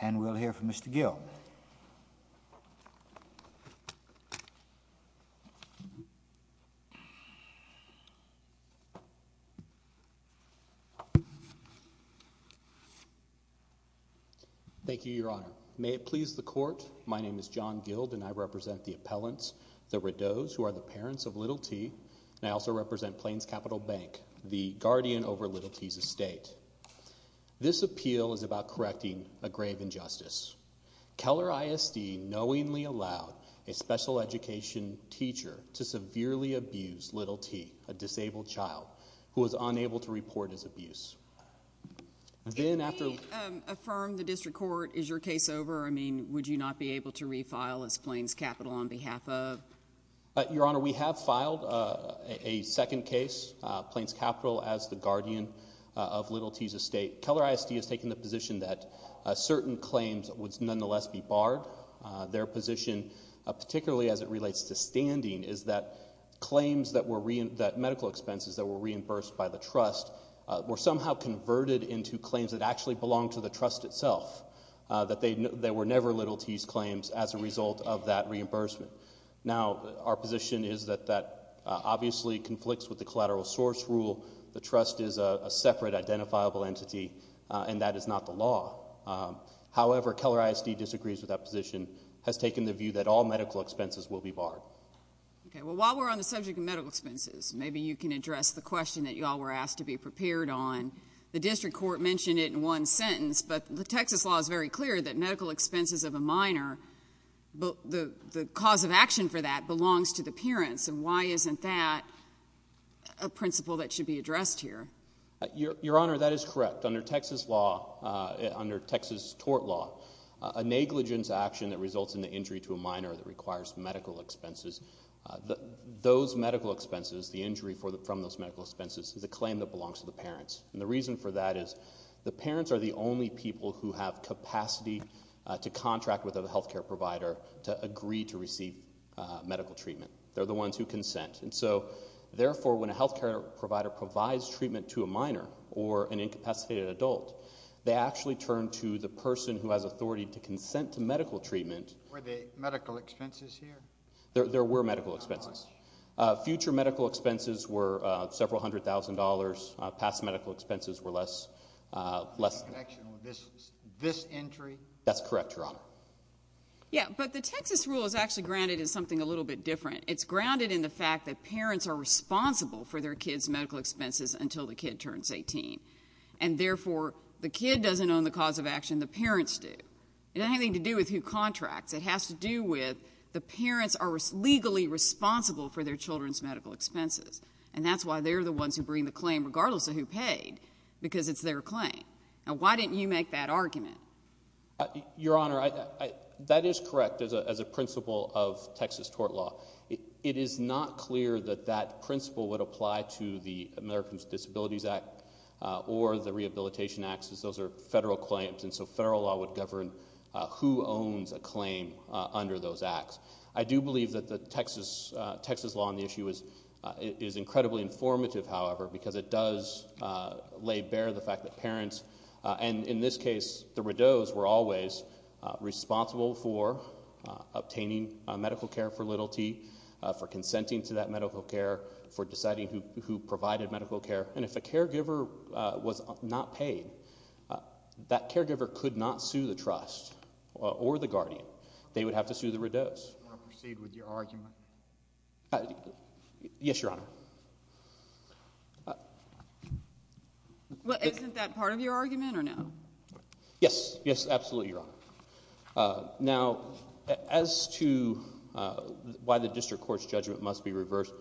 and we'll hear from Mr. Gild. Thank you, Your Honor. May it please the court. My name is John Gild and I represent the appellants, the Rideaus, who are the parents of Little T. I also represent Plains Capital Bank, the guardian over a grave injustice. Keller ISD knowingly allowed a special education teacher to severely abuse Little T, a disabled child, who was unable to report his abuse. Can we affirm the district court, is your case over? I mean, would you not be able to refile as Plains Capital on behalf of? Your Honor, we have filed a second case, Plains Capital as the guardian of Little T's estate. Keller ISD has taken the certain claims would nonetheless be barred. Their position, particularly as it relates to standing, is that claims that were, that medical expenses that were reimbursed by the trust, were somehow converted into claims that actually belong to the trust itself. That they were never Little T's claims as a result of that reimbursement. Now, our position is that that obviously conflicts with the collateral source rule. The trust is a separate identifiable entity, and that is not the law. However, Keller ISD disagrees with that position, has taken the view that all medical expenses will be barred. Okay, well, while we're on the subject of medical expenses, maybe you can address the question that you all were asked to be prepared on. The district court mentioned it in one sentence, but the Texas law is very clear that medical expenses of a minor, the cause of action for that belongs to the parents. And why isn't that a principle that should be addressed here? Your Honor, that is correct. Under Texas law, under Texas tort law, a negligence action that results in the injury to a minor that requires medical expenses, those medical expenses, the injury from those medical expenses, is a claim that belongs to the parents. And the reason for that is the parents are the only people who have capacity to contract with a health care provider to agree to receive medical treatment. They're the ones who consent. And so, therefore, when a health care provider provides treatment to a minor or an incapacitated adult, they actually turn to the person who has authority to consent to medical treatment. Were there medical expenses here? There were medical expenses. Future medical expenses were several hundred thousand dollars. Past medical expenses were less, less than. In connection with this, this entry? That's correct, Your Honor. Yeah, but the Texas rule is actually grounded in something a little bit different. It's grounded in the fact that parents are responsible for their kids' medical expenses until the kid turns 18. And, therefore, the kid doesn't own the cause of action, the parents do. It doesn't have anything to do with who contracts. It has to do with the parents are legally responsible for their children's medical expenses. And that's why they're the ones who bring the claim, regardless of who paid, because it's their claim. Now, why didn't you make that argument? Your Honor, that is correct as a principle of would apply to the Americans with Disabilities Act or the Rehabilitation Act, because those are federal claims. And so, federal law would govern who owns a claim under those acts. I do believe that the Texas law on the issue is incredibly informative, however, because it does lay bare the fact that parents, and in this case, the Rideaux's, were always responsible for obtaining medical care for little t, for consenting to that medical care, for deciding who provided medical care. And if a caregiver was not paid, that caregiver could not sue the trust or the guardian. They would have to sue the Rideaux's. You want to proceed with your argument? Yes, Your Honor. Well, isn't that part of your argument or no? Yes. Yes, absolutely, Your Honor. Now, as to why the district court's judgment must be reversed,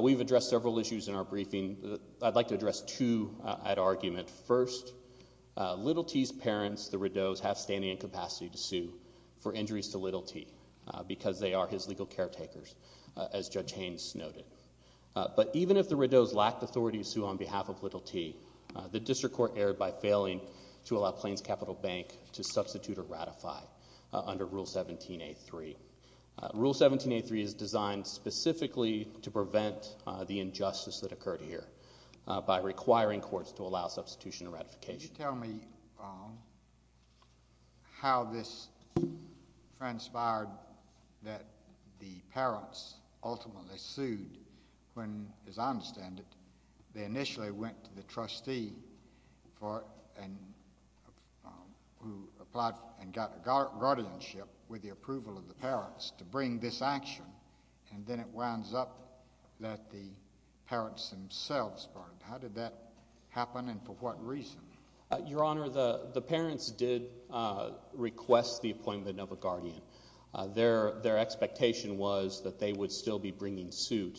we've addressed several issues in our briefing. I'd like to address two at argument. First, little t's parents, the Rideaux's, have standing and capacity to sue for injuries to little t, because they are his legal caretakers, as Judge Haynes noted. But even if the Rideaux's lacked authority to sue on behalf of little t, the district court erred by failing to allow Plains Capital Bank to substitute or ratify under Rule 17-A-3. Rule 17-A-3 is designed specifically to prevent the injustice that occurred here by requiring courts to allow substitution or ratification. Tell me, um, how this transpired that the parents ultimately sued when, as I understand it, they initially went to the trustee for and who applied and got guardianship with the approval of the parents to bring this action. And then it winds up that the parents themselves. How did that happen? And for what reason? Your Honor, the parents did request the appointment of a guardian. Their expectation was that they would still be bringing suit.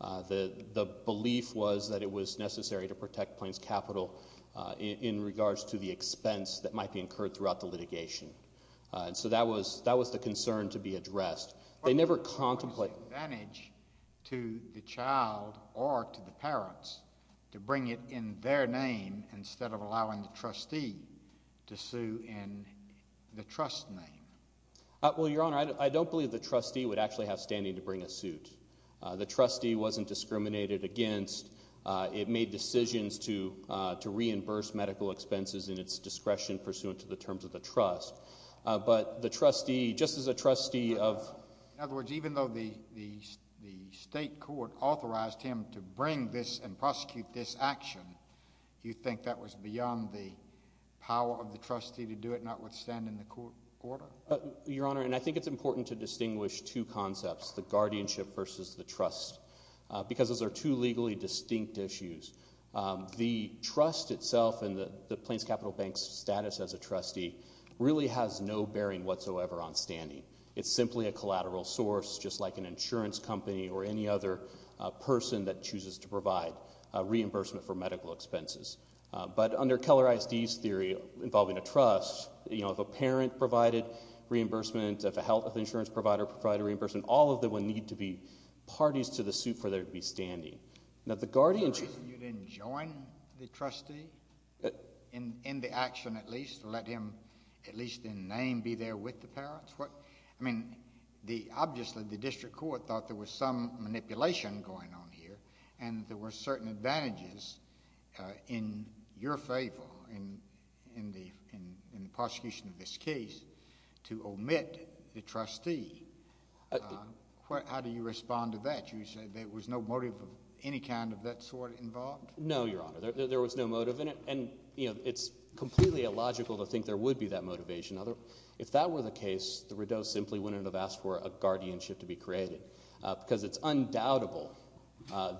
The belief was that it was necessary to protect Plains Capital in regards to the expense that might be incurred throughout the litigation. And so that was that was the concern to be addressed. They never contemplate. To the child or to the parents to bring it in their name instead of allowing the trustee to sue in the trust name. Well, Your Honor, I don't believe the trustee would actually have standing to bring a suit. The decisions to to reimburse medical expenses in its discretion pursuant to the terms of the trust. But the trustee, just as a trustee of other words, even though the the the state court authorized him to bring this and prosecute this action, you think that was beyond the power of the trustee to do it, notwithstanding the court order? Your Honor, and I think it's important to distinguish two concepts, the guardianship versus the trust, because those are two legally distinct issues. The trust itself and the Plains Capital Bank's status as a trustee really has no bearing whatsoever on standing. It's simply a collateral source, just like an insurance company or any other person that chooses to provide reimbursement for medical expenses. But under Keller ISD's theory involving a trust, you know, if a parent provided reimbursement, if a health insurance provider provided reimbursement, all of them would need to be parties to the suit for there to be standing. Now the guardianship... You didn't join the trustee in the action at least, to let him at least in name be there with the parents? What... I mean, obviously the district court thought there was some manipulation going on here and there were certain advantages in your favor in the prosecution of this case to omit the trustee. How do you respond to that? You said there was no motive of any kind of that sort involved? No, Your Honor. There was no motive in it. And, you know, it's completely illogical to think there would be that motivation. If that were the case, the Rideau's simply wouldn't have asked for a guardianship to be created, because it's undoubtable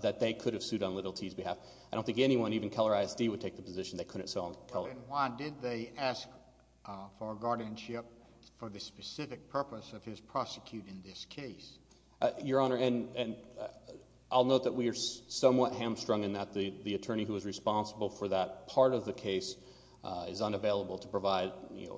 that they could have sued on Little T's behalf. I don't think anyone, even Keller ISD, would take the position they couldn't sue on Keller. Then why did they ask for a specific purpose of his prosecuting this case? Your Honor, and I'll note that we are somewhat hamstrung in that the attorney who was responsible for that part of the case is unavailable to provide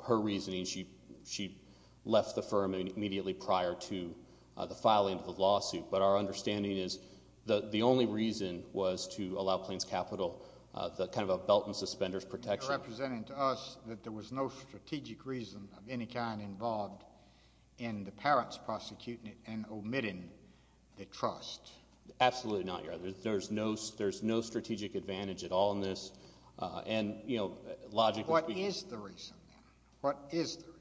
her reasoning. She left the firm immediately prior to the filing of the lawsuit. But our understanding is that the only reason was to allow Plains Capital kind of a belt and suspenders protection. You're representing to us that there was no strategic reason of involved in the parents prosecuting it and omitting the trust. Absolutely not, Your Honor. There's no strategic advantage at all in this. And, you know, logically... What is the reason? What is the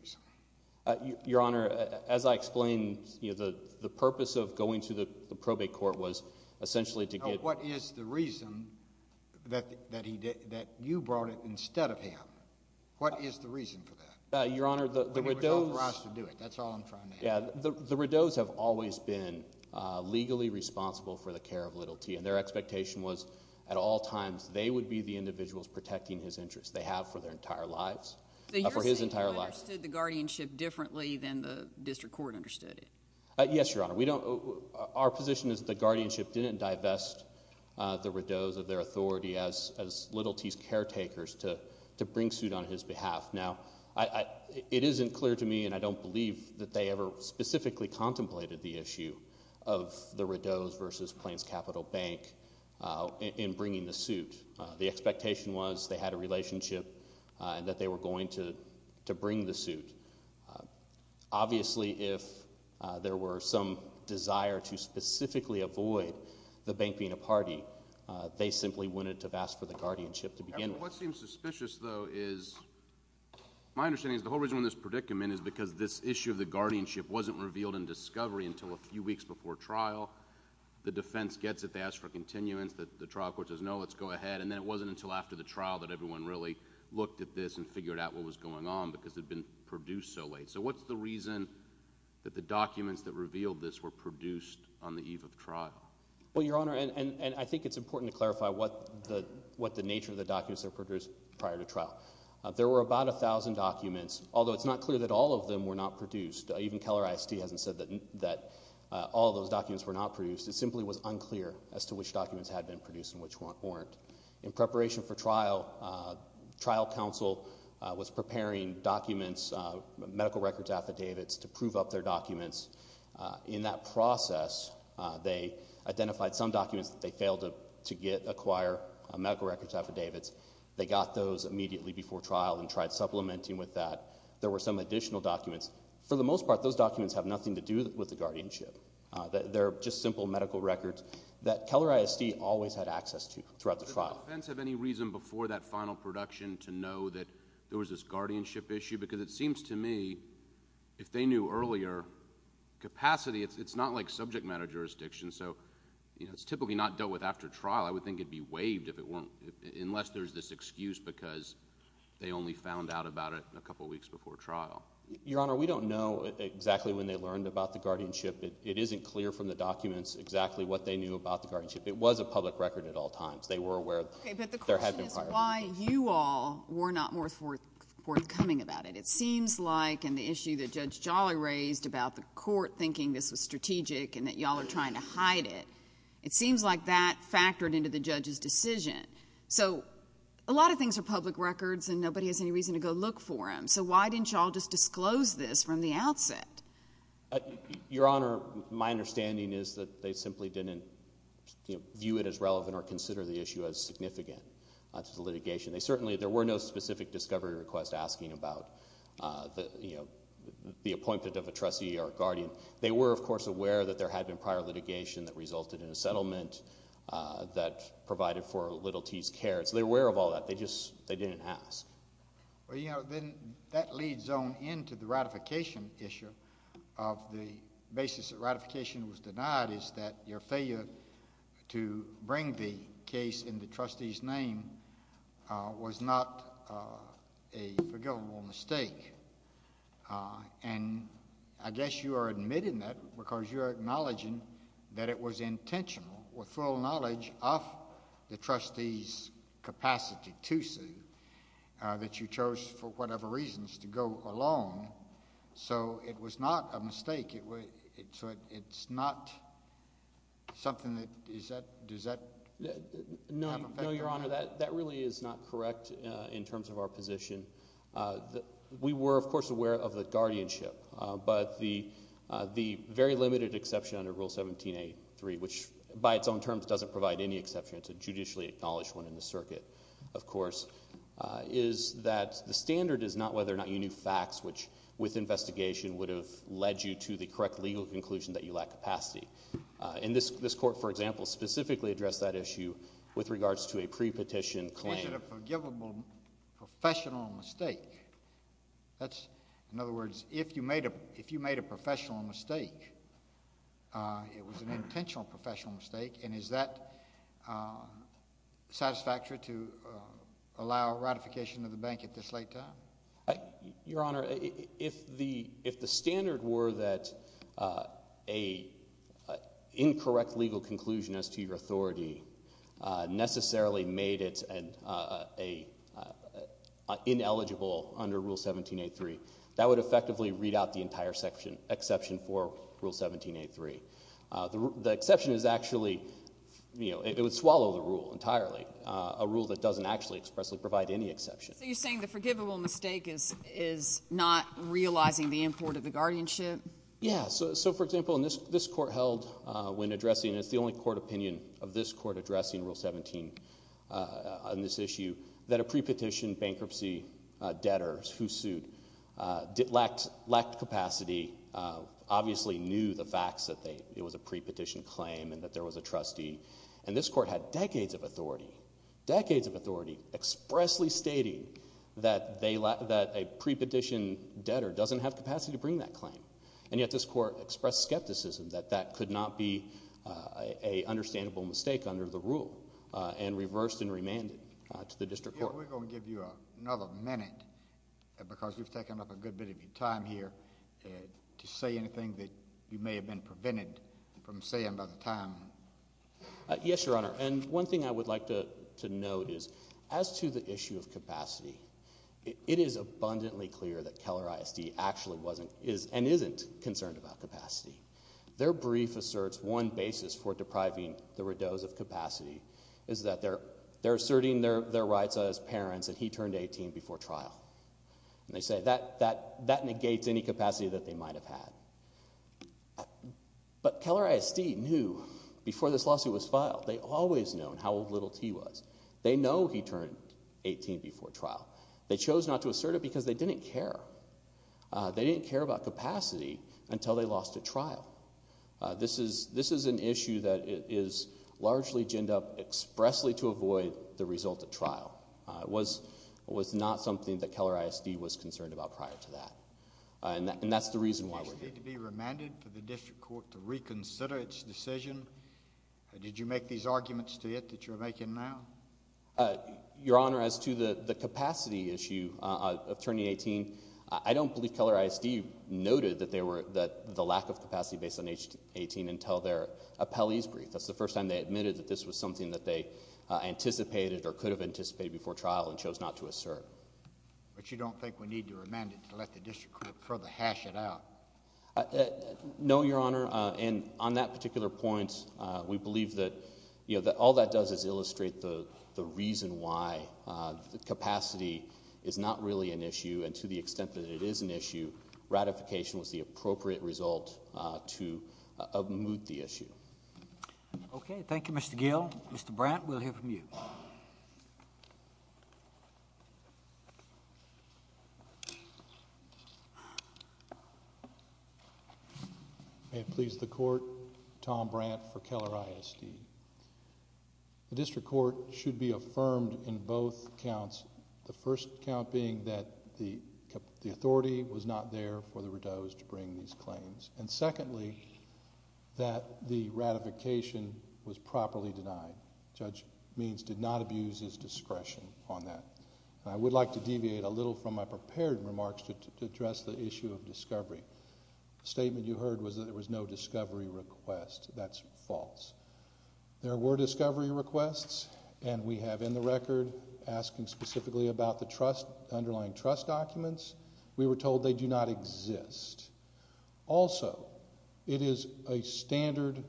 reason? Your Honor, as I explained, the purpose of going to the probate court was essentially to get... What is the reason that you brought it instead of him? What is the reason for that? Your Honor, the Rideau's... That's all I'm trying to answer. The Rideau's have always been legally responsible for the care of Little T. And their expectation was at all times they would be the individuals protecting his interests. They have for their entire lives. For his entire life. So you're saying you understood the guardianship differently than the district court understood it? Yes, Your Honor. We don't... Our position is the guardianship didn't divest the Rideau's of their authority as Little T's caretakers to bring the suit on his behalf. Now, it isn't clear to me and I don't believe that they ever specifically contemplated the issue of the Rideau's versus Plains Capital Bank in bringing the suit. The expectation was they had a relationship and that they were going to bring the suit. Obviously, if there were some desire to specifically avoid the bank being a party, they simply wouldn't have asked for the suit. My understanding is the whole reason for this predicament is because this issue of the guardianship wasn't revealed in discovery until a few weeks before trial. The defense gets it. They ask for continuance. The trial court says, no, let's go ahead. And then it wasn't until after the trial that everyone really looked at this and figured out what was going on because it had been produced so late. So what's the reason that the documents that revealed this were produced on the eve of trial? Well, Your Honor, and I think it's important to clarify what the nature of the documents that were produced prior to trial. There were about a thousand documents, although it's not clear that all of them were not produced. Even Keller ISD hasn't said that all those documents were not produced. It simply was unclear as to which documents had been produced and which weren't. In preparation for trial, trial counsel was preparing documents, medical records affidavits, to prove up their documents. In that process, they got those immediately before trial and tried supplementing with that. There were some additional documents. For the most part, those documents have nothing to do with the guardianship. They're just simple medical records that Keller ISD always had access to throughout the trial. Did the defense have any reason before that final production to know that there was this guardianship issue? Because it seems to me, if they knew earlier, capacity, it's not like subject matter jurisdiction. So, you know, it's typically not dealt with after trial. I would think it'd be waived if it weren't, unless there's this excuse because they only found out about it a couple of weeks before trial. Your Honor, we don't know exactly when they learned about the guardianship. It isn't clear from the documents exactly what they knew about the guardianship. It was a public record at all times. They were aware there had been prior records. Okay, but the question is why you all were not more forthcoming about it. It seems like in the issue that Judge Jolly raised about the court thinking this was strategic and that y'all are trying to hide it, it seems like that factored into the judge's decision. So, a lot of things are public records and nobody has any reason to go look for them. So why didn't y'all just disclose this from the outset? Your Honor, my understanding is that they simply didn't view it as relevant or consider the issue as significant to the litigation. They certainly, there were no specific discovery requests asking about, you know, the appointment of a trustee or a guardian. They were, of course, aware that there had been prior litigation that resulted in a settlement that provided for Little T's care. So they were aware of all that. They just, they didn't ask. Well, you know, then that leads on into the ratification issue of the basis that ratification was denied is that your failure to bring the case in the trustee's name was not a forgivable mistake. And I guess you are admitting that because you are acknowledging that it was intentional with full knowledge of the trustee's capacity to sue that you chose for whatever reasons to go alone. So it was not a mistake. It was, it's not something that, is that, does that have an effect? No, Your Honor, that really is not correct in terms of our position. We were, of course, part of the guardianship. But the very limited exception under Rule 17A3, which by its own terms doesn't provide any exception, it's a judicially acknowledged one in the circuit, of course, is that the standard is not whether or not you knew facts which, with investigation, would have led you to the correct legal conclusion that you lack capacity. And this Court, for example, specifically addressed that issue with regards to a pre-petition claim. But is it a forgivable professional mistake? That's, in other words, if you made a, if you made a professional mistake, it was an intentional professional mistake, and is that satisfactory to allow ratification of the bank at this late time? Your Honor, if the, if the standard were that a incorrect legal conclusion as to your authority necessarily made it an ineligible under Rule 17A3, that would effectively read out the entire section, exception for Rule 17A3. The exception is actually, you know, it would swallow the rule entirely, a rule that doesn't actually expressly provide any exception. So you're saying the forgivable mistake is is not realizing the import of the guardianship? Yeah, so for example, in this this Court held when addressing, it's the only court opinion of this Court addressing Rule 17 on this issue, that a pre-petition bankruptcy debtors who sued lacked, lacked capacity, obviously knew the facts that they, it was a pre-petition claim, and that there was a trustee. And this Court had decades of authority, decades of authority, expressly stating that they, that a pre-petition debtor doesn't have capacity to bring that claim. And yet this Court expressed skepticism that that could not be a understandable mistake under the rule, and reversed and remanded to the District Court. We're going to give you another minute, because you've taken up a good bit of your time here, to say anything that you may have been prevented from saying by the time. Yes, Your Honor, and one thing I would like to note is, as to the issue of capacity, it is abundantly clear that Keller ISD actually wasn't, is, and isn't concerned about capacity. Their brief asserts one basis for depriving the Rideau's of capacity, is that they're, they're asserting their, their rights as parents that he turned 18 before trial. And they say that, that, that negates any capacity that they might have had. But Keller ISD knew, before this lawsuit was filed, they always known how old Little T was. They know he turned 18 before trial. They chose not to assert it, because they didn't care. They didn't care about how they lost at trial. This is, this is an issue that is largely ginned up expressly to avoid the result at trial. It was, was not something that Keller ISD was concerned about prior to that. And that, and that's the reason why we're here. Did you need to be remanded for the District Court to reconsider its decision? Did you make these arguments to it, that you're making now? Your Honor, as to the, the capacity issue of turning 18, I don't believe Keller ISD noted that they were, that the lack of capacity based on age 18 until their appellee's brief. That's the first time they admitted that this was something that they anticipated or could have anticipated before trial and chose not to assert. But you don't think we need to remand it to let the District Court further hash it out? No, Your Honor. And on that particular point, we believe that, you know, that all that does is illustrate the, the reason why the capacity is not really an issue. And to the extent that it is an issue, ratification was the appropriate result to unmute the issue. Okay. Thank you, Mr. Gill. Mr. Brandt, we'll hear from you. May it please the Court, Tom Brandt for Keller ISD. The District Court should be affirmed in both counts, the first count being that the, the authority was not there for the Rideau's to bring these claims. And secondly, that the ratification was properly denied. Judge Means did not abuse his discretion on that. I would like to deviate a little from my prepared remarks to address the issue of discovery. The statement you heard was that there was no discovery request. That's false. There were discovery requests and we have in the record asking specifically about the trust, underlying trust documents. We were told they do not exist. Also, it is a standard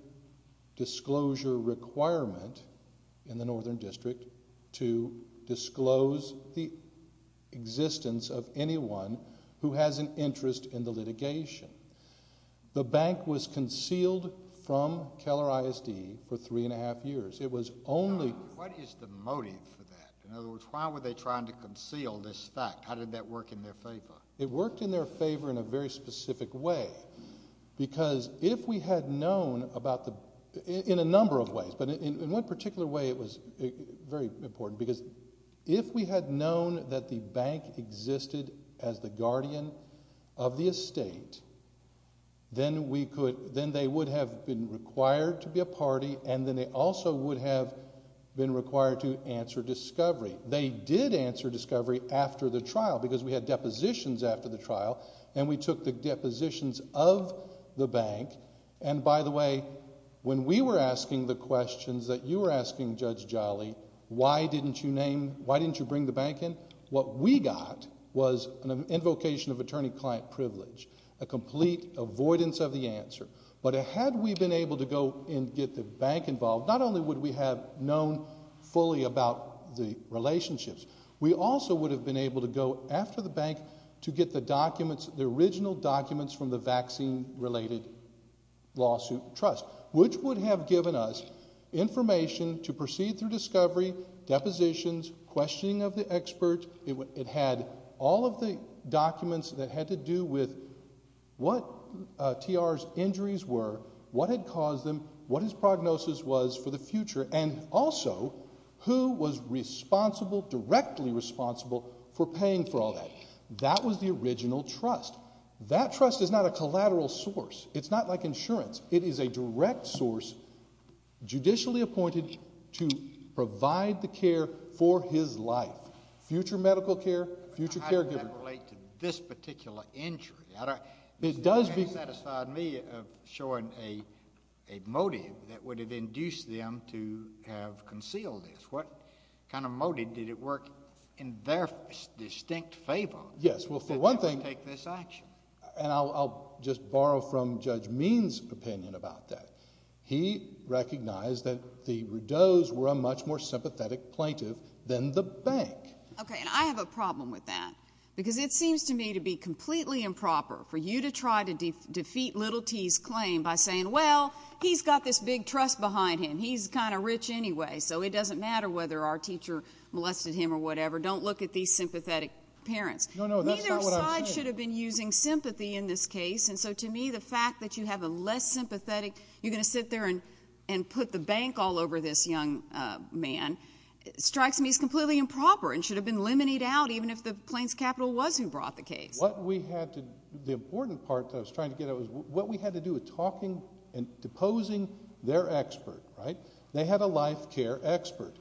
disclosure requirement in the Northern District to disclose the existence of anyone who has an interest in the litigation. The bank was concealed from Keller ISD for three and a half years. It was only. What is the motive for that? In other words, why were they trying to conceal this fact? How did that work in their favor? It worked in their favor in a very specific way. Because if we had known about the, in a number of ways, but in, in one particular way it was very important. Because if we had known that the bank existed as the guardian of the estate, then we could, then they would have been required to be a party and then they also would have been required to answer discovery. They did answer discovery after the trial because we had depositions after the trial and we took the depositions of the bank. And by the way, when we were asking the questions that you were asking Judge Jolly, why didn't you name, why didn't you bring the bank in? What we got was an invocation of attorney-client privilege, a complete avoidance of the answer. But had we been able to go and get the bank involved, not only would we have known fully about the relationships, we also would have been able to go after the bank to get the answer. Which would have given us information to proceed through discovery, depositions, questioning of the expert. It had all of the documents that had to do with what TR's injuries were, what had caused them, what his prognosis was for the future, and also who was responsible, directly responsible for paying for all that. That was the original trust. That trust is not a collateral source. It's not like insurance. It is a direct source, judicially appointed to provide the care for his life. Future medical care, future caregiver. How does that relate to this particular injury? It does. It doesn't satisfy me of showing a motive that would have induced them to have concealed this. What kind of motive did it work in their distinct favor? Yes, well for one thing. That they would take this action. And I'll just borrow from Judge Means' opinion about that. He recognized that the Rodeaux's were a much more sympathetic plaintiff than the bank. Okay, and I have a problem with that. Because it seems to me to be completely improper for you to try to defeat Little T's claim by saying, well, he's got this big trust behind him. He's kind of rich anyway, so it doesn't matter whether our teacher molested him or whatever. Don't look at these sympathetic parents. No, no, that's not what I'm saying. Neither side should have been using sympathy in this case. And so to me, the fact that you have a less sympathetic, you're going to sit there and put the bank all over this young man, strikes me as completely improper and should have been eliminated out even if the plaintiff's capital was who brought the case. What we had to, the important part that I was trying to get at was what we had to do with talking and deposing their expert, right? They had a life care expert.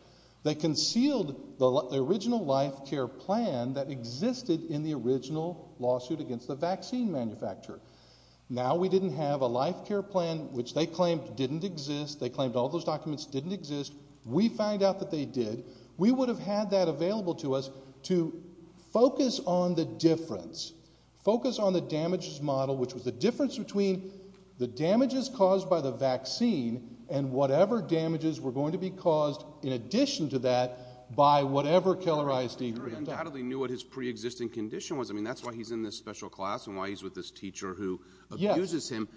They concealed the original life care plan that existed in the original lawsuit against the vaccine manufacturer. Now we didn't have a life care plan, which they claimed didn't exist. They claimed all those documents didn't exist. We found out that they did. We would have had that available to us to focus on the difference, focus on the damages model, which was the difference between the damages caused by the vaccine and whatever damages were going to be caused in addition to that by whatever killerized e-grid. The jury undoubtedly knew what his pre-existing condition was. I mean, that's why he's in this special class and why he's with this teacher who abuses him.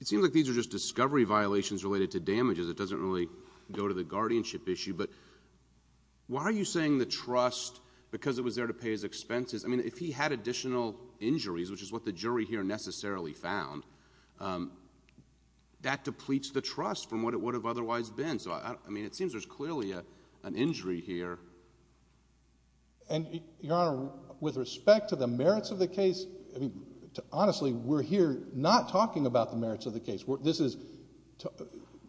It seems like these are just discovery violations related to damages. It doesn't really go to the guardianship issue. But why are you saying the trust, because it was there to pay his expenses? I mean, if he had additional injuries, which is what the jury here necessarily found, that depletes the trust from what it would have otherwise been. So, I mean, it seems there's clearly an injury here. And Your Honor, with respect to the merits of the case, I mean, honestly, we're here not talking about the merits of the case. This is...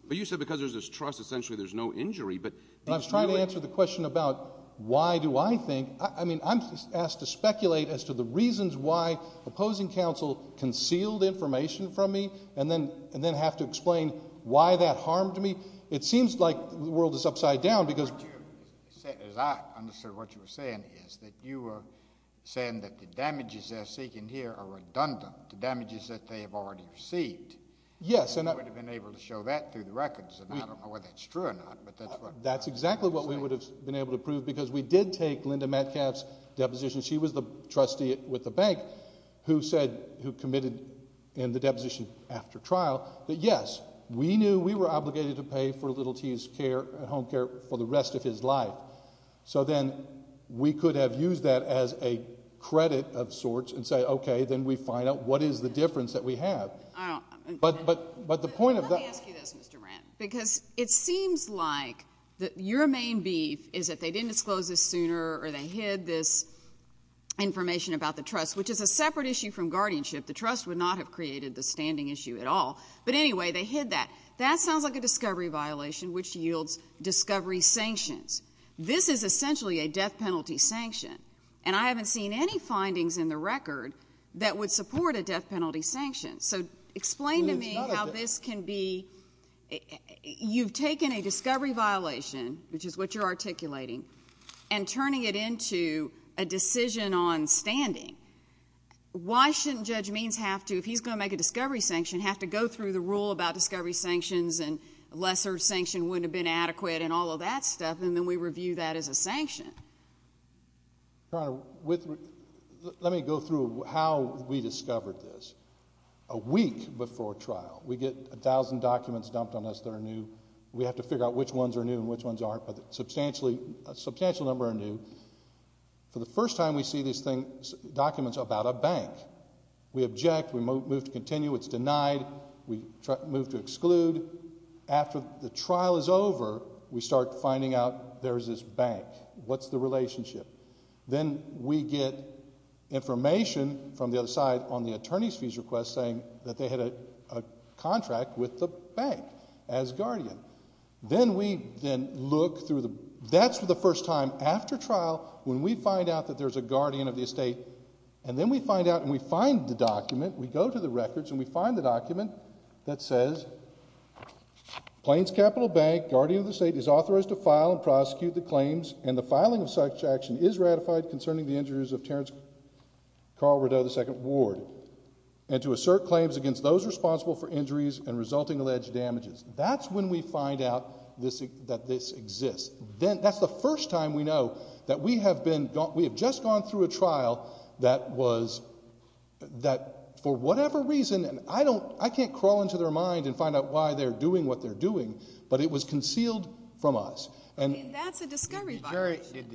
But you said because there's this trust, essentially there's no injury, but... I was trying to answer the question about why do I think, I mean, I'm asked to speculate as to the reasons why opposing counsel concealed information from me and then have to explain why that harmed me. It seems like the world is upside down because... But you said, as I understood what you were saying, is that you were saying that the damages they're seeking here are redundant, the damages that they have already received. Yes, and I... And we would have been able to show that through the records, and I don't know whether that's true or not, but that's what... That's exactly what we would have been able to prove because we did take Linda Metcalf's deposition. She was the trustee with the bank who said, who committed in the deposition after trial, that, yes, we knew we were obligated to pay for little T's care, home care, for the rest of his life. So then we could have used that as a credit of sorts and say, okay, then we find out what is the difference that we have. But the point of that... Let me ask you this, Mr. Brandt, because it seems like your main beef is that they didn't disclose this sooner or they hid this information about the trust, which is a separate issue from guardianship. The trust would not have created the standing issue at all. But anyway, they hid that. That sounds like a discovery violation, which yields discovery sanctions. This is essentially a death penalty sanction, and I haven't seen any findings in the record that would support a death penalty sanction. So explain to me how this can be... You've taken a discovery violation, which is what you're articulating, and turning it to a decision on standing. Why shouldn't Judge Means have to, if he's going to make a discovery sanction, have to go through the rule about discovery sanctions and a lesser sanction wouldn't have been adequate and all of that stuff, and then we review that as a sanction? Your Honor, let me go through how we discovered this. A week before trial, we get a thousand documents dumped on us that are new. We have to figure out which ones are new and which number are new. For the first time, we see these documents about a bank. We object. We move to continue. It's denied. We move to exclude. After the trial is over, we start finding out there's this bank. What's the relationship? Then we get information from the other side on the attorney's fees request saying that they had a contract with the bank as guardian. That's for the first time. After trial, when we find out that there's a guardian of the estate, and then we find out and we find the document, we go to the records and we find the document that says, Plains Capital Bank, guardian of the estate, is authorized to file and prosecute the claims, and the filing of such action is ratified concerning the injuries of Terrence Carl Rideau II Ward, and to assert claims against those responsible for injuries and resulting alleged damages. That's when we find out that this exists. That's the first time we know that we have just gone through a trial that was, that for whatever reason, and I can't crawl into their mind and find out why they're doing what they're doing, but it was concealed from us. I mean, that's a discovery violation. Because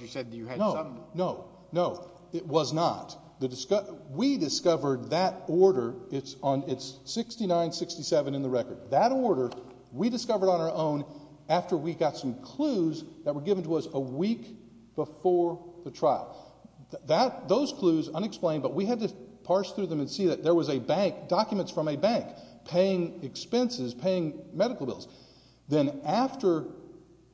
you said that you had some... No, no, no. It was not. We discovered that order, it's 69-67 in the record. That order, we discovered on our own after we got some clues that were given to us a week before the trial. Those clues, unexplained, but we had to parse through them and see that there was a bank, documents from a bank, paying expenses, paying medical bills. Then after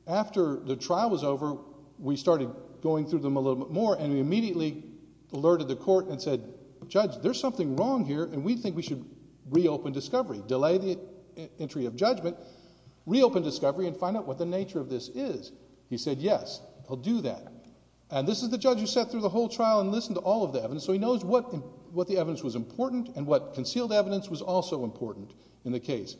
the trial was over, we started going through them a little bit more, and we immediately alerted the court and said, Judge, there's something wrong here, and we think we should reopen discovery, delay the entry of judgment, reopen discovery, and find out what the nature of this is. He said, yes, I'll do that. And this is the judge who sat through the whole trial and listened to all of the evidence, so he knows what the evidence was important and what concealed evidence was also important in the case.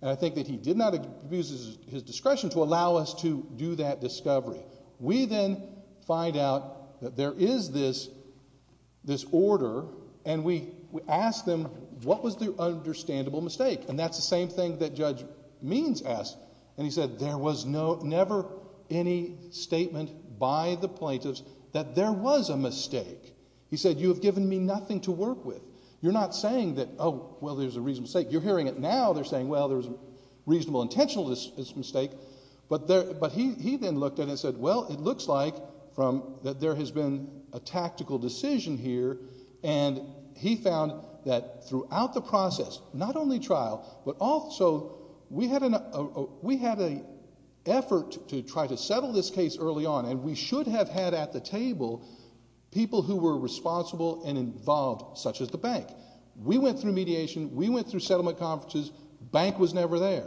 And I think that he did not abuse his discretion to allow us to do that discovery. We then find out that there is this order, and we ask them, what was the understandable mistake? And that's the same thing that Judge Means asked. And he said, there was never any statement by the plaintiffs that there was a mistake. He said, you have given me nothing to work with. You're not saying that, oh, well, there's a reasonable mistake. You're hearing it now. They're saying, well, there's a reasonable intentional mistake. But he then looked at it and said, well, it looks like that there has been a tactical decision here, and he found that throughout the process, not only trial, but also we had an effort to try to settle this case early on, and we should have had at the table people who were responsible and involved, such as the bank. We went through mediation. We went through settlement conferences. Bank was never there.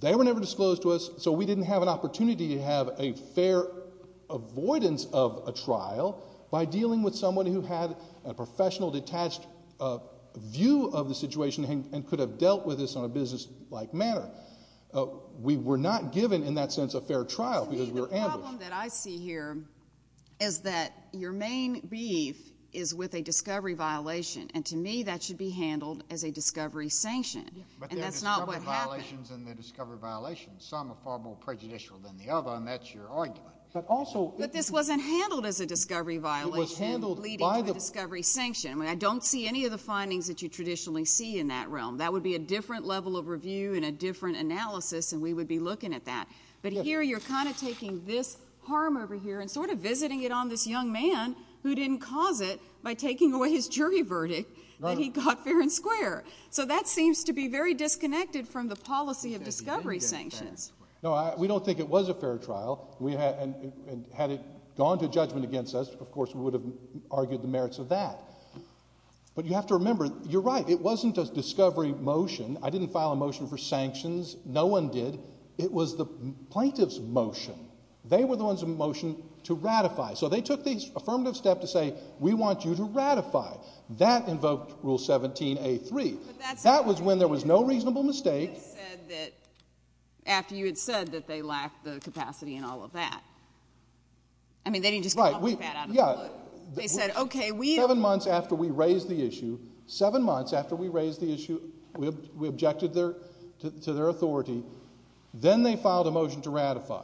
They were never disclosed to us, so we didn't have an opportunity to have a fair avoidance of a trial by dealing with someone who had a professional detached view of the situation and could have dealt with this on a businesslike manner. We were not given, in that sense, a fair trial because we were ambushed. The problem that I see here is that your main beef is with a discovery violation, and to me, that should be handled as a discovery sanction, and that's not what happened. But there are discovery violations, and there are discovery violations. Some are far more prejudicial than the other, and that's your argument. But this wasn't handled as a discovery violation leading to a discovery sanction. I mean, I don't see any of the findings that you traditionally see in that realm. That would be a different level of review and a different analysis, and we would be looking at that. But here, you're kind of taking this harm over here and sort of visiting it on this young man who didn't cause it by taking away his jury verdict that he got fair and square. So that seems to be very disconnected from the policy of discovery sanctions. No, we don't think it was a fair trial, and had it gone to judgment against us, of course we would have argued the merits of that. But you have to remember, you're right. It wasn't a discovery motion. I didn't file a motion for sanctions. No one did. It was the plaintiff's motion. They were the ones who motioned to ratify. So they took the affirmative step to say, we want you to ratify. That invoked Rule 17A.3. But that's... That was when there was no reasonable mistake. But you had said that, after you had said that, they lacked the capacity and all of that. I mean, they didn't just come up with that out of the blue. Right. Yeah. They said, okay, we... Seven months after we raised the issue, seven months after we raised the issue, we objected to their authority, then they filed a motion to ratify.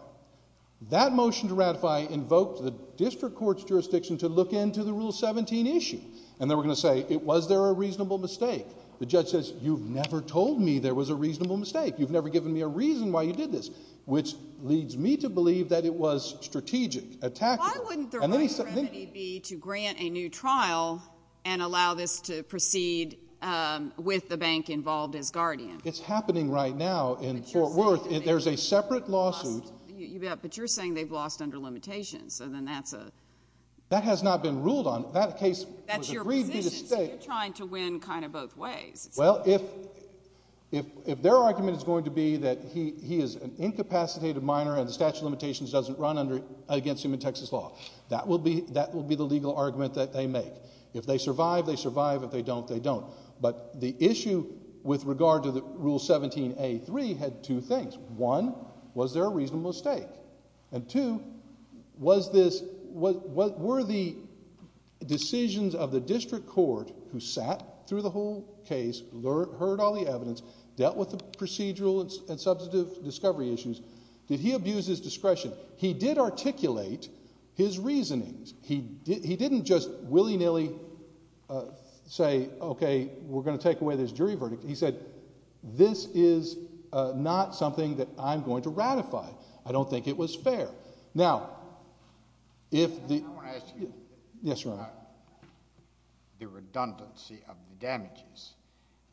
That motion to ratify invoked the district court's jurisdiction to look into the Rule 17 issue. And they were going to say, was there a reasonable mistake? The judge says, you've never told me there was a reasonable mistake. You've never given me a reason why you did this, which leads me to believe that it was strategic, attackable. Why wouldn't the right remedy be to grant a new trial and allow this to proceed with the bank involved as guardian? It's happening right now in Fort Worth. There's a separate lawsuit. But you're saying they've lost under limitations. So then that's a... That has not been ruled on. That case was agreed to be the state. That's your position. So you're trying to win kind of both ways. Well, if their argument is going to be that he is an incapacitated minor and the statute of limitations doesn't run against him in Texas law, that will be the legal argument that they make. If they survive, they survive. If they don't, they don't. But the issue with regard to Rule 17A.3 had two things. One, was there a reasonable mistake? And two, were the decisions of the district court who sat through the whole case, heard all the evidence, dealt with the procedural and substantive discovery issues, did he abuse his discretion? He did articulate his reasonings. He didn't just willy-nilly say, okay, we're going to take away this jury verdict. He said, this is not something that I'm going to ratify. I don't think it was fair. Now, if the... I want to ask you about the redundancy of the damages.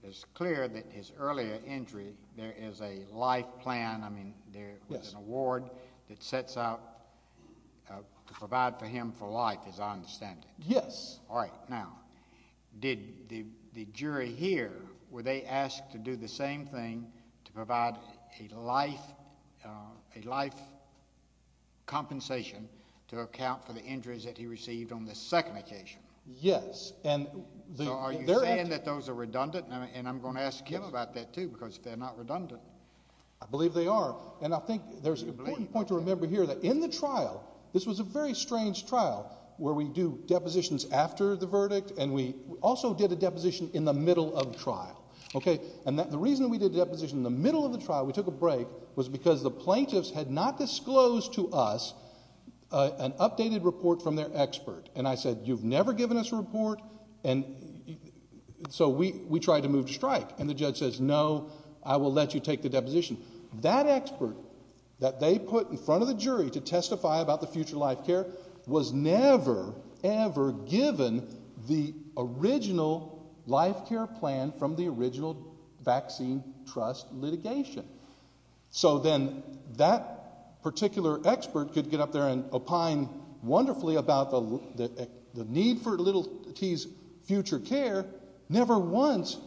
It's clear that his earlier injury, there is a life plan. There is an award that sets out to provide for him for life, as I understand it. Yes. All right. Now, did the jury here, were they asked to do the same thing to provide a life compensation to account for the injuries that he received on the second occasion? Yes. So are you saying that those are redundant? And I'm going to ask him about that, too, because if they're not redundant... I believe they are. And I think there's an important point to remember here that in the trial, this was a very strange trial where we do depositions after the verdict, and we also did a deposition in the middle of the trial. Okay? And the reason we did a deposition in the middle of the trial, we took a break, was because the plaintiffs had not disclosed to us an updated report from their expert. And I said, you've never given us a report? And so we tried to move to strike. And the judge says, no, I will let you take the deposition. That expert that they put in front of the jury to testify about the future life care was never, ever given the original life care plan from the original vaccine trust litigation. So then that particular expert could get up there and opine wonderfully about the need for little T's future care, never once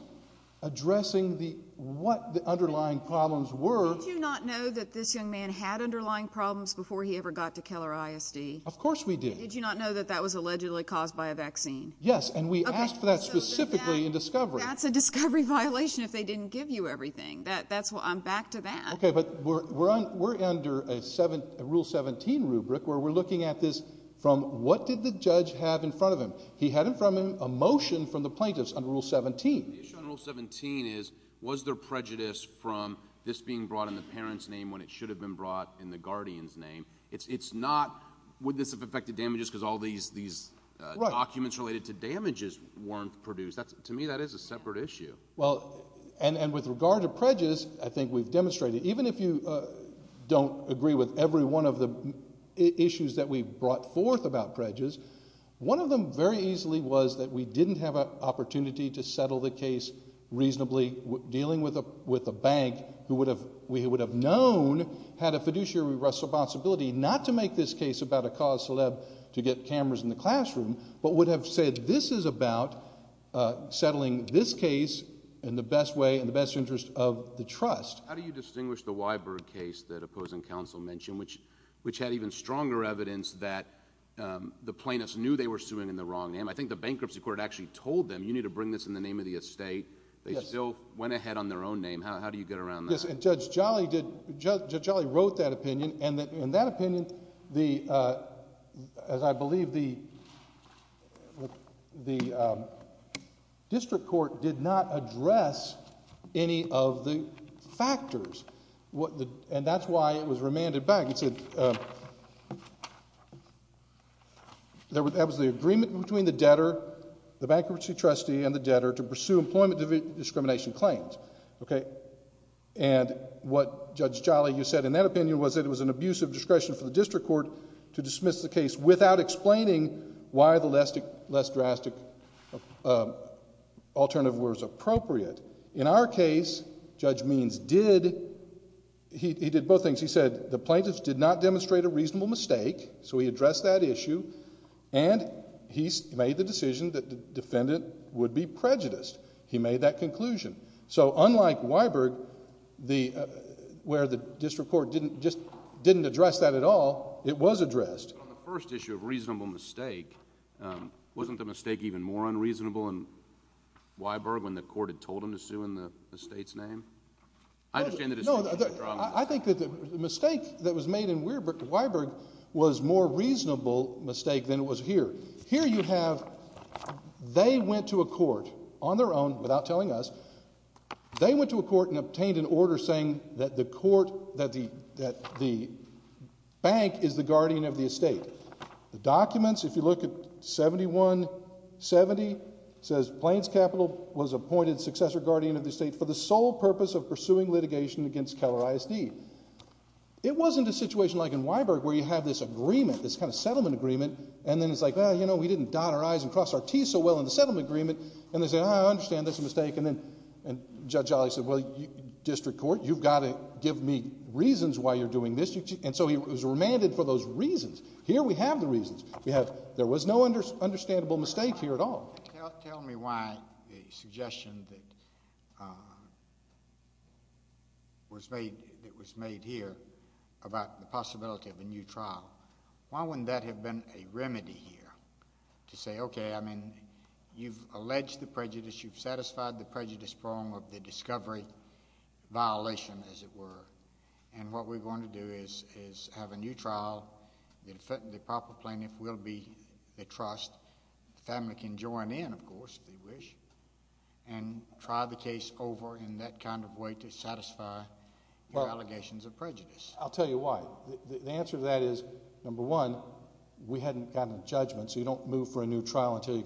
addressing what the underlying problems were. Did you not know that this young man had underlying problems before he ever got to Keller ISD? Of course we did. Did you not know that that was allegedly caused by a vaccine? Yes, and we asked for that specifically in discovery. That's a discovery violation if they didn't give you everything. I'm back to that. Okay, but we're under a Rule 17 rubric where we're looking at this from what did the judge have in front of him? He had in front of him a motion from the plaintiffs under Rule 17. The issue under Rule 17 is was there prejudice from this being brought in the parent's name when it should have been brought in the guardian's name? It's not would this have affected damages because all these documents related to damages weren't produced. To me, that is a separate issue. Well, and with regard to prejudice, I think we've demonstrated, even if you don't agree with every one of the issues that we've brought forth about prejudice, one of them very easily was that we didn't have an opportunity to settle the case reasonably. Dealing with a bank who we would have known had a fiduciary responsibility not to make this case about a cause celeb to get cameras in the classroom, but would have said this is about settling this case in the best way, in the best interest of the trust. How do you distinguish the Weyberg case that opposing counsel mentioned, which had even stronger evidence that the plaintiffs knew they were suing in the wrong name? I think the bankruptcy court actually told them you need to bring this in the name of the estate. They still went ahead on their own name. How do you get around that? Judge Jolly wrote that opinion, and in that opinion, as I believe, the district court did not address any of the factors, and that's why it was remanded back. It said that was the agreement between the debtor, the bankruptcy trustee, and the debtor to pursue employment discrimination claims. And what Judge Jolly, you said in that opinion, was that it was an abuse of discretion for the district court to dismiss the case without explaining why the less drastic alternative was appropriate. In our case, Judge Means did both things. He said the plaintiffs did not demonstrate a reasonable mistake, so he addressed that issue, and he made the decision that the defendant would be prejudiced. He made that conclusion. So unlike Weyberg, where the district court just didn't address that at all, it was addressed. On the first issue of reasonable mistake, wasn't the mistake even more unreasonable in Weyberg when the court had told him to sue in the estate's name? I understand the distinction. I think that the mistake that was made in Weyberg was a more reasonable mistake than it was here. Here you have they went to a court on their own without telling us. They went to a court and obtained an order saying that the court, that the bank is the guardian of the estate. The documents, if you look at 7170, says Plains Capital was appointed successor guardian of the estate for the sole purpose of pursuing litigation against Keller ISD. It wasn't a situation like in Weyberg where you have this agreement, this kind of settlement agreement, and then it's like, well, you know, we didn't dot our I's and cross our T's so well in the settlement agreement. And they say, I understand that's a mistake. And then Judge Olley said, well, district court, you've got to give me reasons why you're doing this. And so he was remanded for those reasons. Here we have the reasons. We have there was no understandable mistake here at all. Tell me why the suggestion that was made here about the possibility of a new trial, why wouldn't that have been a remedy here to say, okay, I mean, you've alleged the prejudice. You've satisfied the prejudice prong of the discovery violation, as it were. And what we're going to do is have a new trial. The proper plaintiff will be the trust. The family can join in, of course, if they wish, and try the case over in that kind of way to satisfy your allegations of prejudice. I'll tell you why. The answer to that is, number one, we hadn't gotten a judgment. So you don't move for a new trial until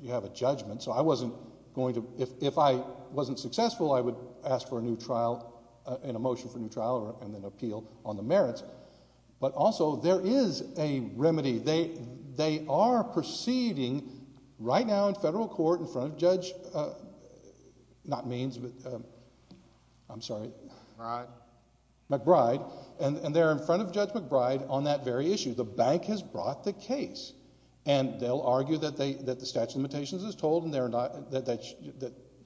you have a judgment. So I wasn't going to ‑‑ if I wasn't successful, I would ask for a new trial and a motion for a new trial and then appeal on the merits. But also there is a remedy. They are proceeding right now in federal court in front of Judge ‑‑ not Means, but I'm sorry. McBride. McBride. And they're in front of Judge McBride on that very issue. The bank has brought the case. And they'll argue that the statute of limitations is told and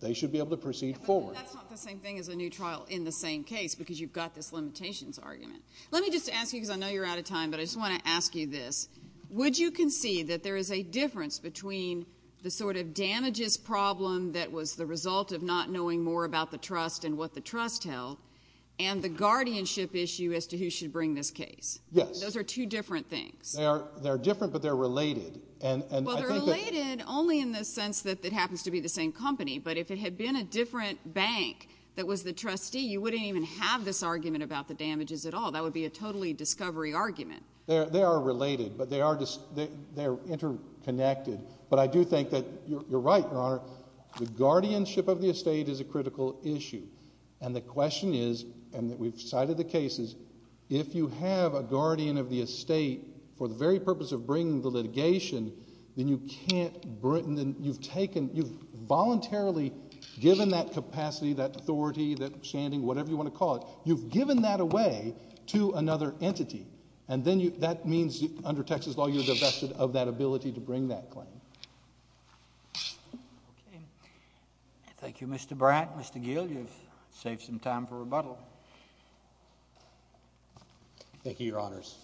they should be able to proceed forward. But that's not the same thing as a new trial in the same case, because you've got this limitations argument. Let me just ask you, because I know you're out of time, but I just want to ask you this. Would you concede that there is a difference between the sort of damages problem that was the result of not knowing more about the trust and what the trust held and the guardianship issue as to who should bring this case? Yes. Those are two different things. They are different, but they're related. Well, they're related only in the sense that it happens to be the same company. But if it had been a different bank that was the trustee, you wouldn't even have this argument about the damages at all. That would be a totally discovery argument. They are related, but they are interconnected. But I do think that you're right, Your Honor. The guardianship of the estate is a critical issue. And the question is, and we've cited the cases, if you have a guardian of the estate for the very purpose of bringing the litigation, then you've voluntarily given that capacity, that authority, that standing, whatever you want to call it, you've given that away to another entity. And then that means under Texas law you're divested of that ability to bring that claim. Okay. Thank you, Mr. Bratt. Mr. Gill, you've saved some time for rebuttal. Thank you, Your Honors.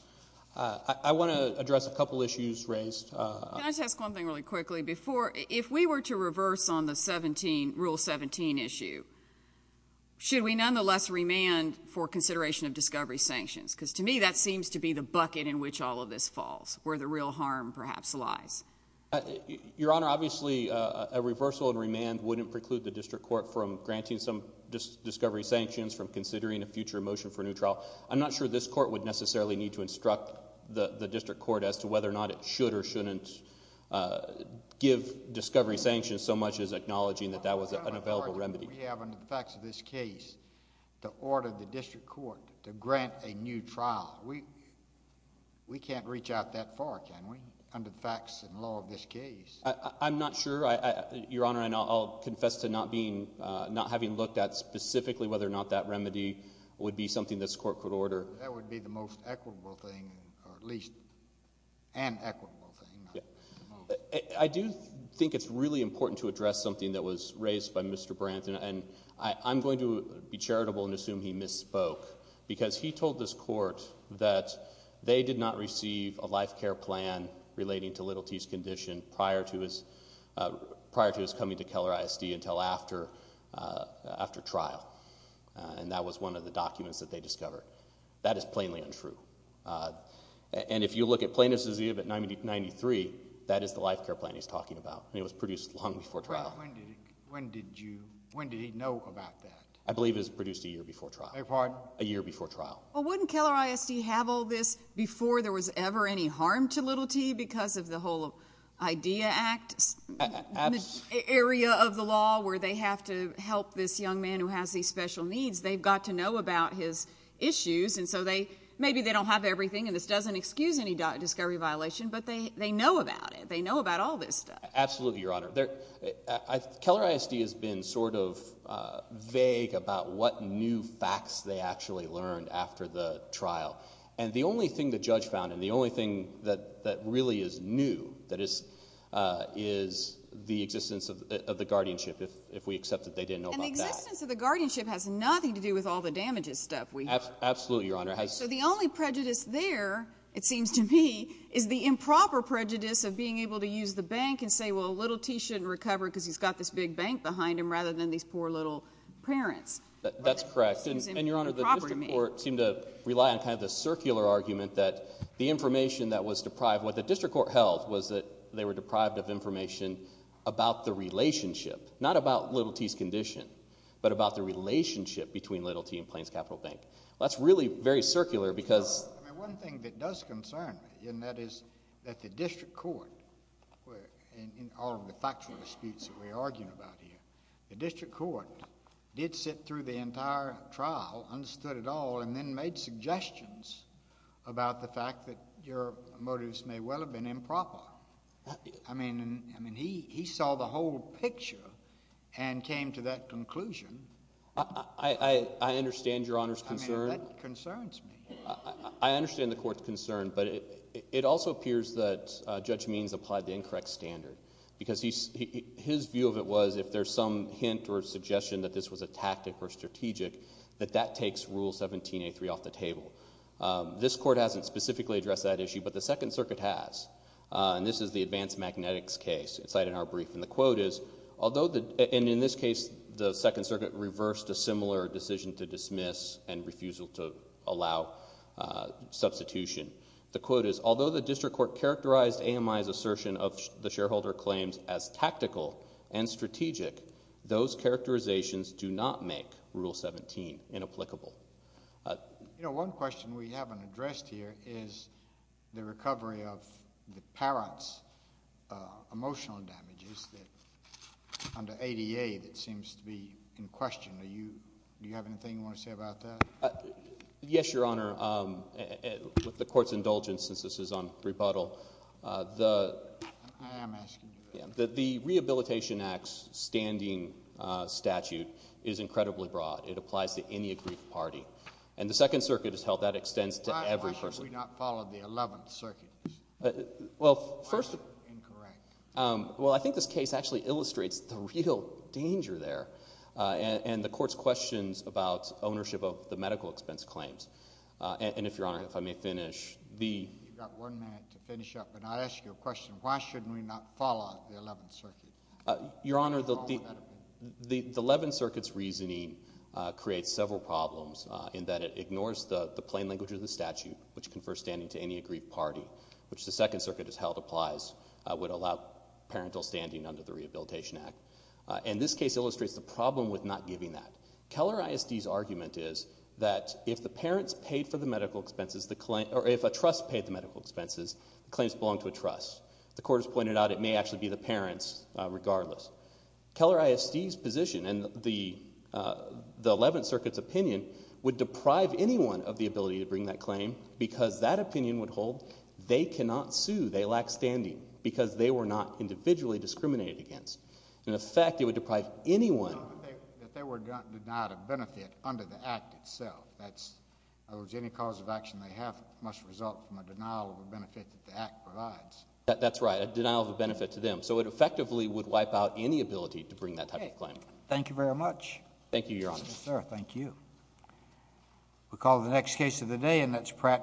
I want to address a couple issues raised. Can I just ask one thing really quickly? Before, if we were to reverse on the Rule 17 issue, should we nonetheless remand for consideration of discovery sanctions? Because to me that seems to be the bucket in which all of this falls, where the real harm perhaps lies. Your Honor, obviously a reversal and remand wouldn't preclude the district court from granting some discovery sanctions, from considering a future motion for a new trial. I'm not sure this court would necessarily need to instruct the district court as to whether or not it should or shouldn't give discovery sanctions so much as acknowledging that that was an available remedy. We have under the facts of this case to order the district court to grant a new trial. We can't reach out that far, can we, under the facts and law of this case? I'm not sure, Your Honor. And I'll confess to not having looked at specifically whether or not that remedy would be something this court could order. That would be the most equitable thing, or at least an equitable thing. I do think it's really important to address something that was raised by Mr. Branton, and I'm going to be charitable and assume he misspoke because he told this court that they did not receive a life care plan relating to Little T's condition prior to his coming to Keller ISD until after trial. And that was one of the documents that they discovered. That is plainly untrue. And if you look at Plaintiff's Exhibit 93, that is the life care plan he's talking about, and it was produced long before trial. When did he know about that? I believe it was produced a year before trial. A year before trial. Well, wouldn't Keller ISD have all this before there was ever any harm to Little T because of the whole IDEA Act area of the law where they have to help this young man who has these special needs? They've got to know about his issues, and so maybe they don't have everything, and this doesn't excuse any discovery violation, but they know about it. They know about all this stuff. Absolutely, Your Honor. Keller ISD has been sort of vague about what new facts they actually learned after the trial, and the only thing the judge found and the only thing that really is new is the existence of the guardianship, if we accept that they didn't know about that. And the existence of the guardianship has nothing to do with all the damages stuff we have. Absolutely, Your Honor. So the only prejudice there, it seems to me, is the improper prejudice of being able to use the bank and say, well, Little T shouldn't recover because he's got this big bank behind him rather than these poor little parents. That's correct, and, Your Honor, the district court seemed to rely on kind of the circular argument that the information that was deprived, what the district court held was that they were deprived of information about the relationship, not about Little T's condition, but about the relationship between Little T and Plains Capital Bank. That's really very circular because— One thing that does concern me, and that is that the district court, in all of the factual disputes that we're arguing about here, the district court did sit through the entire trial, understood it all, and then made suggestions about the fact that your motives may well have been improper. I mean, he saw the whole picture and came to that conclusion. I understand Your Honor's concern. I mean, that concerns me. I understand the court's concern, but it also appears that Judge Means applied the incorrect standard because his view of it was if there's some hint or suggestion that this was a tactic or strategic, that that takes Rule 17A3 off the table. This court hasn't specifically addressed that issue, but the Second Circuit has. And this is the advanced magnetics case cited in our brief. And the quote is, and in this case the Second Circuit reversed a similar decision to dismiss and refusal to allow substitution. The quote is, although the district court characterized AMI's assertion of the shareholder claims as tactical and strategic, those characterizations do not make Rule 17 inapplicable. You know, one question we haven't addressed here is the recovery of the parent's emotional damages under ADA that seems to be in question. Do you have anything you want to say about that? Yes, Your Honor. With the court's indulgence, since this is on rebuttal, the Rehabilitation Act's standing statute is incredibly broad. It applies to any aggrieved party. And the Second Circuit has held that extends to every person. Why should we not follow the Eleventh Circuit? Well, first of all, I think this case actually illustrates the real danger there and the Court's questions about ownership of the medical expense claims. And if Your Honor, if I may finish. You've got one minute to finish up, and I ask you a question. Why shouldn't we not follow the Eleventh Circuit? Your Honor, the Eleventh Circuit's reasoning creates several problems in that it ignores the plain language of the statute, which confers standing to any aggrieved party, which the Second Circuit has held applies, would allow parental standing under the Rehabilitation Act. And this case illustrates the problem with not giving that. Keller ISD's argument is that if the parents paid for the medical expenses, or if a trust paid the medical expenses, the claims belong to a trust. The Court has pointed out it may actually be the parents regardless. Keller ISD's position and the Eleventh Circuit's opinion would deprive anyone of the ability to bring that claim because that opinion would hold they cannot sue, they lack standing, because they were not individually discriminated against. In effect, it would deprive anyone— If they were denied a benefit under the Act itself, in other words, any cause of action they have must result from a denial of a benefit that the Act provides. That's right, a denial of a benefit to them. So it effectively would wipe out any ability to bring that type of claim. Thank you very much. Thank you, Your Honor. Yes, sir. Thank you. We'll call the next case of the day, and that's Pratt v. Smith.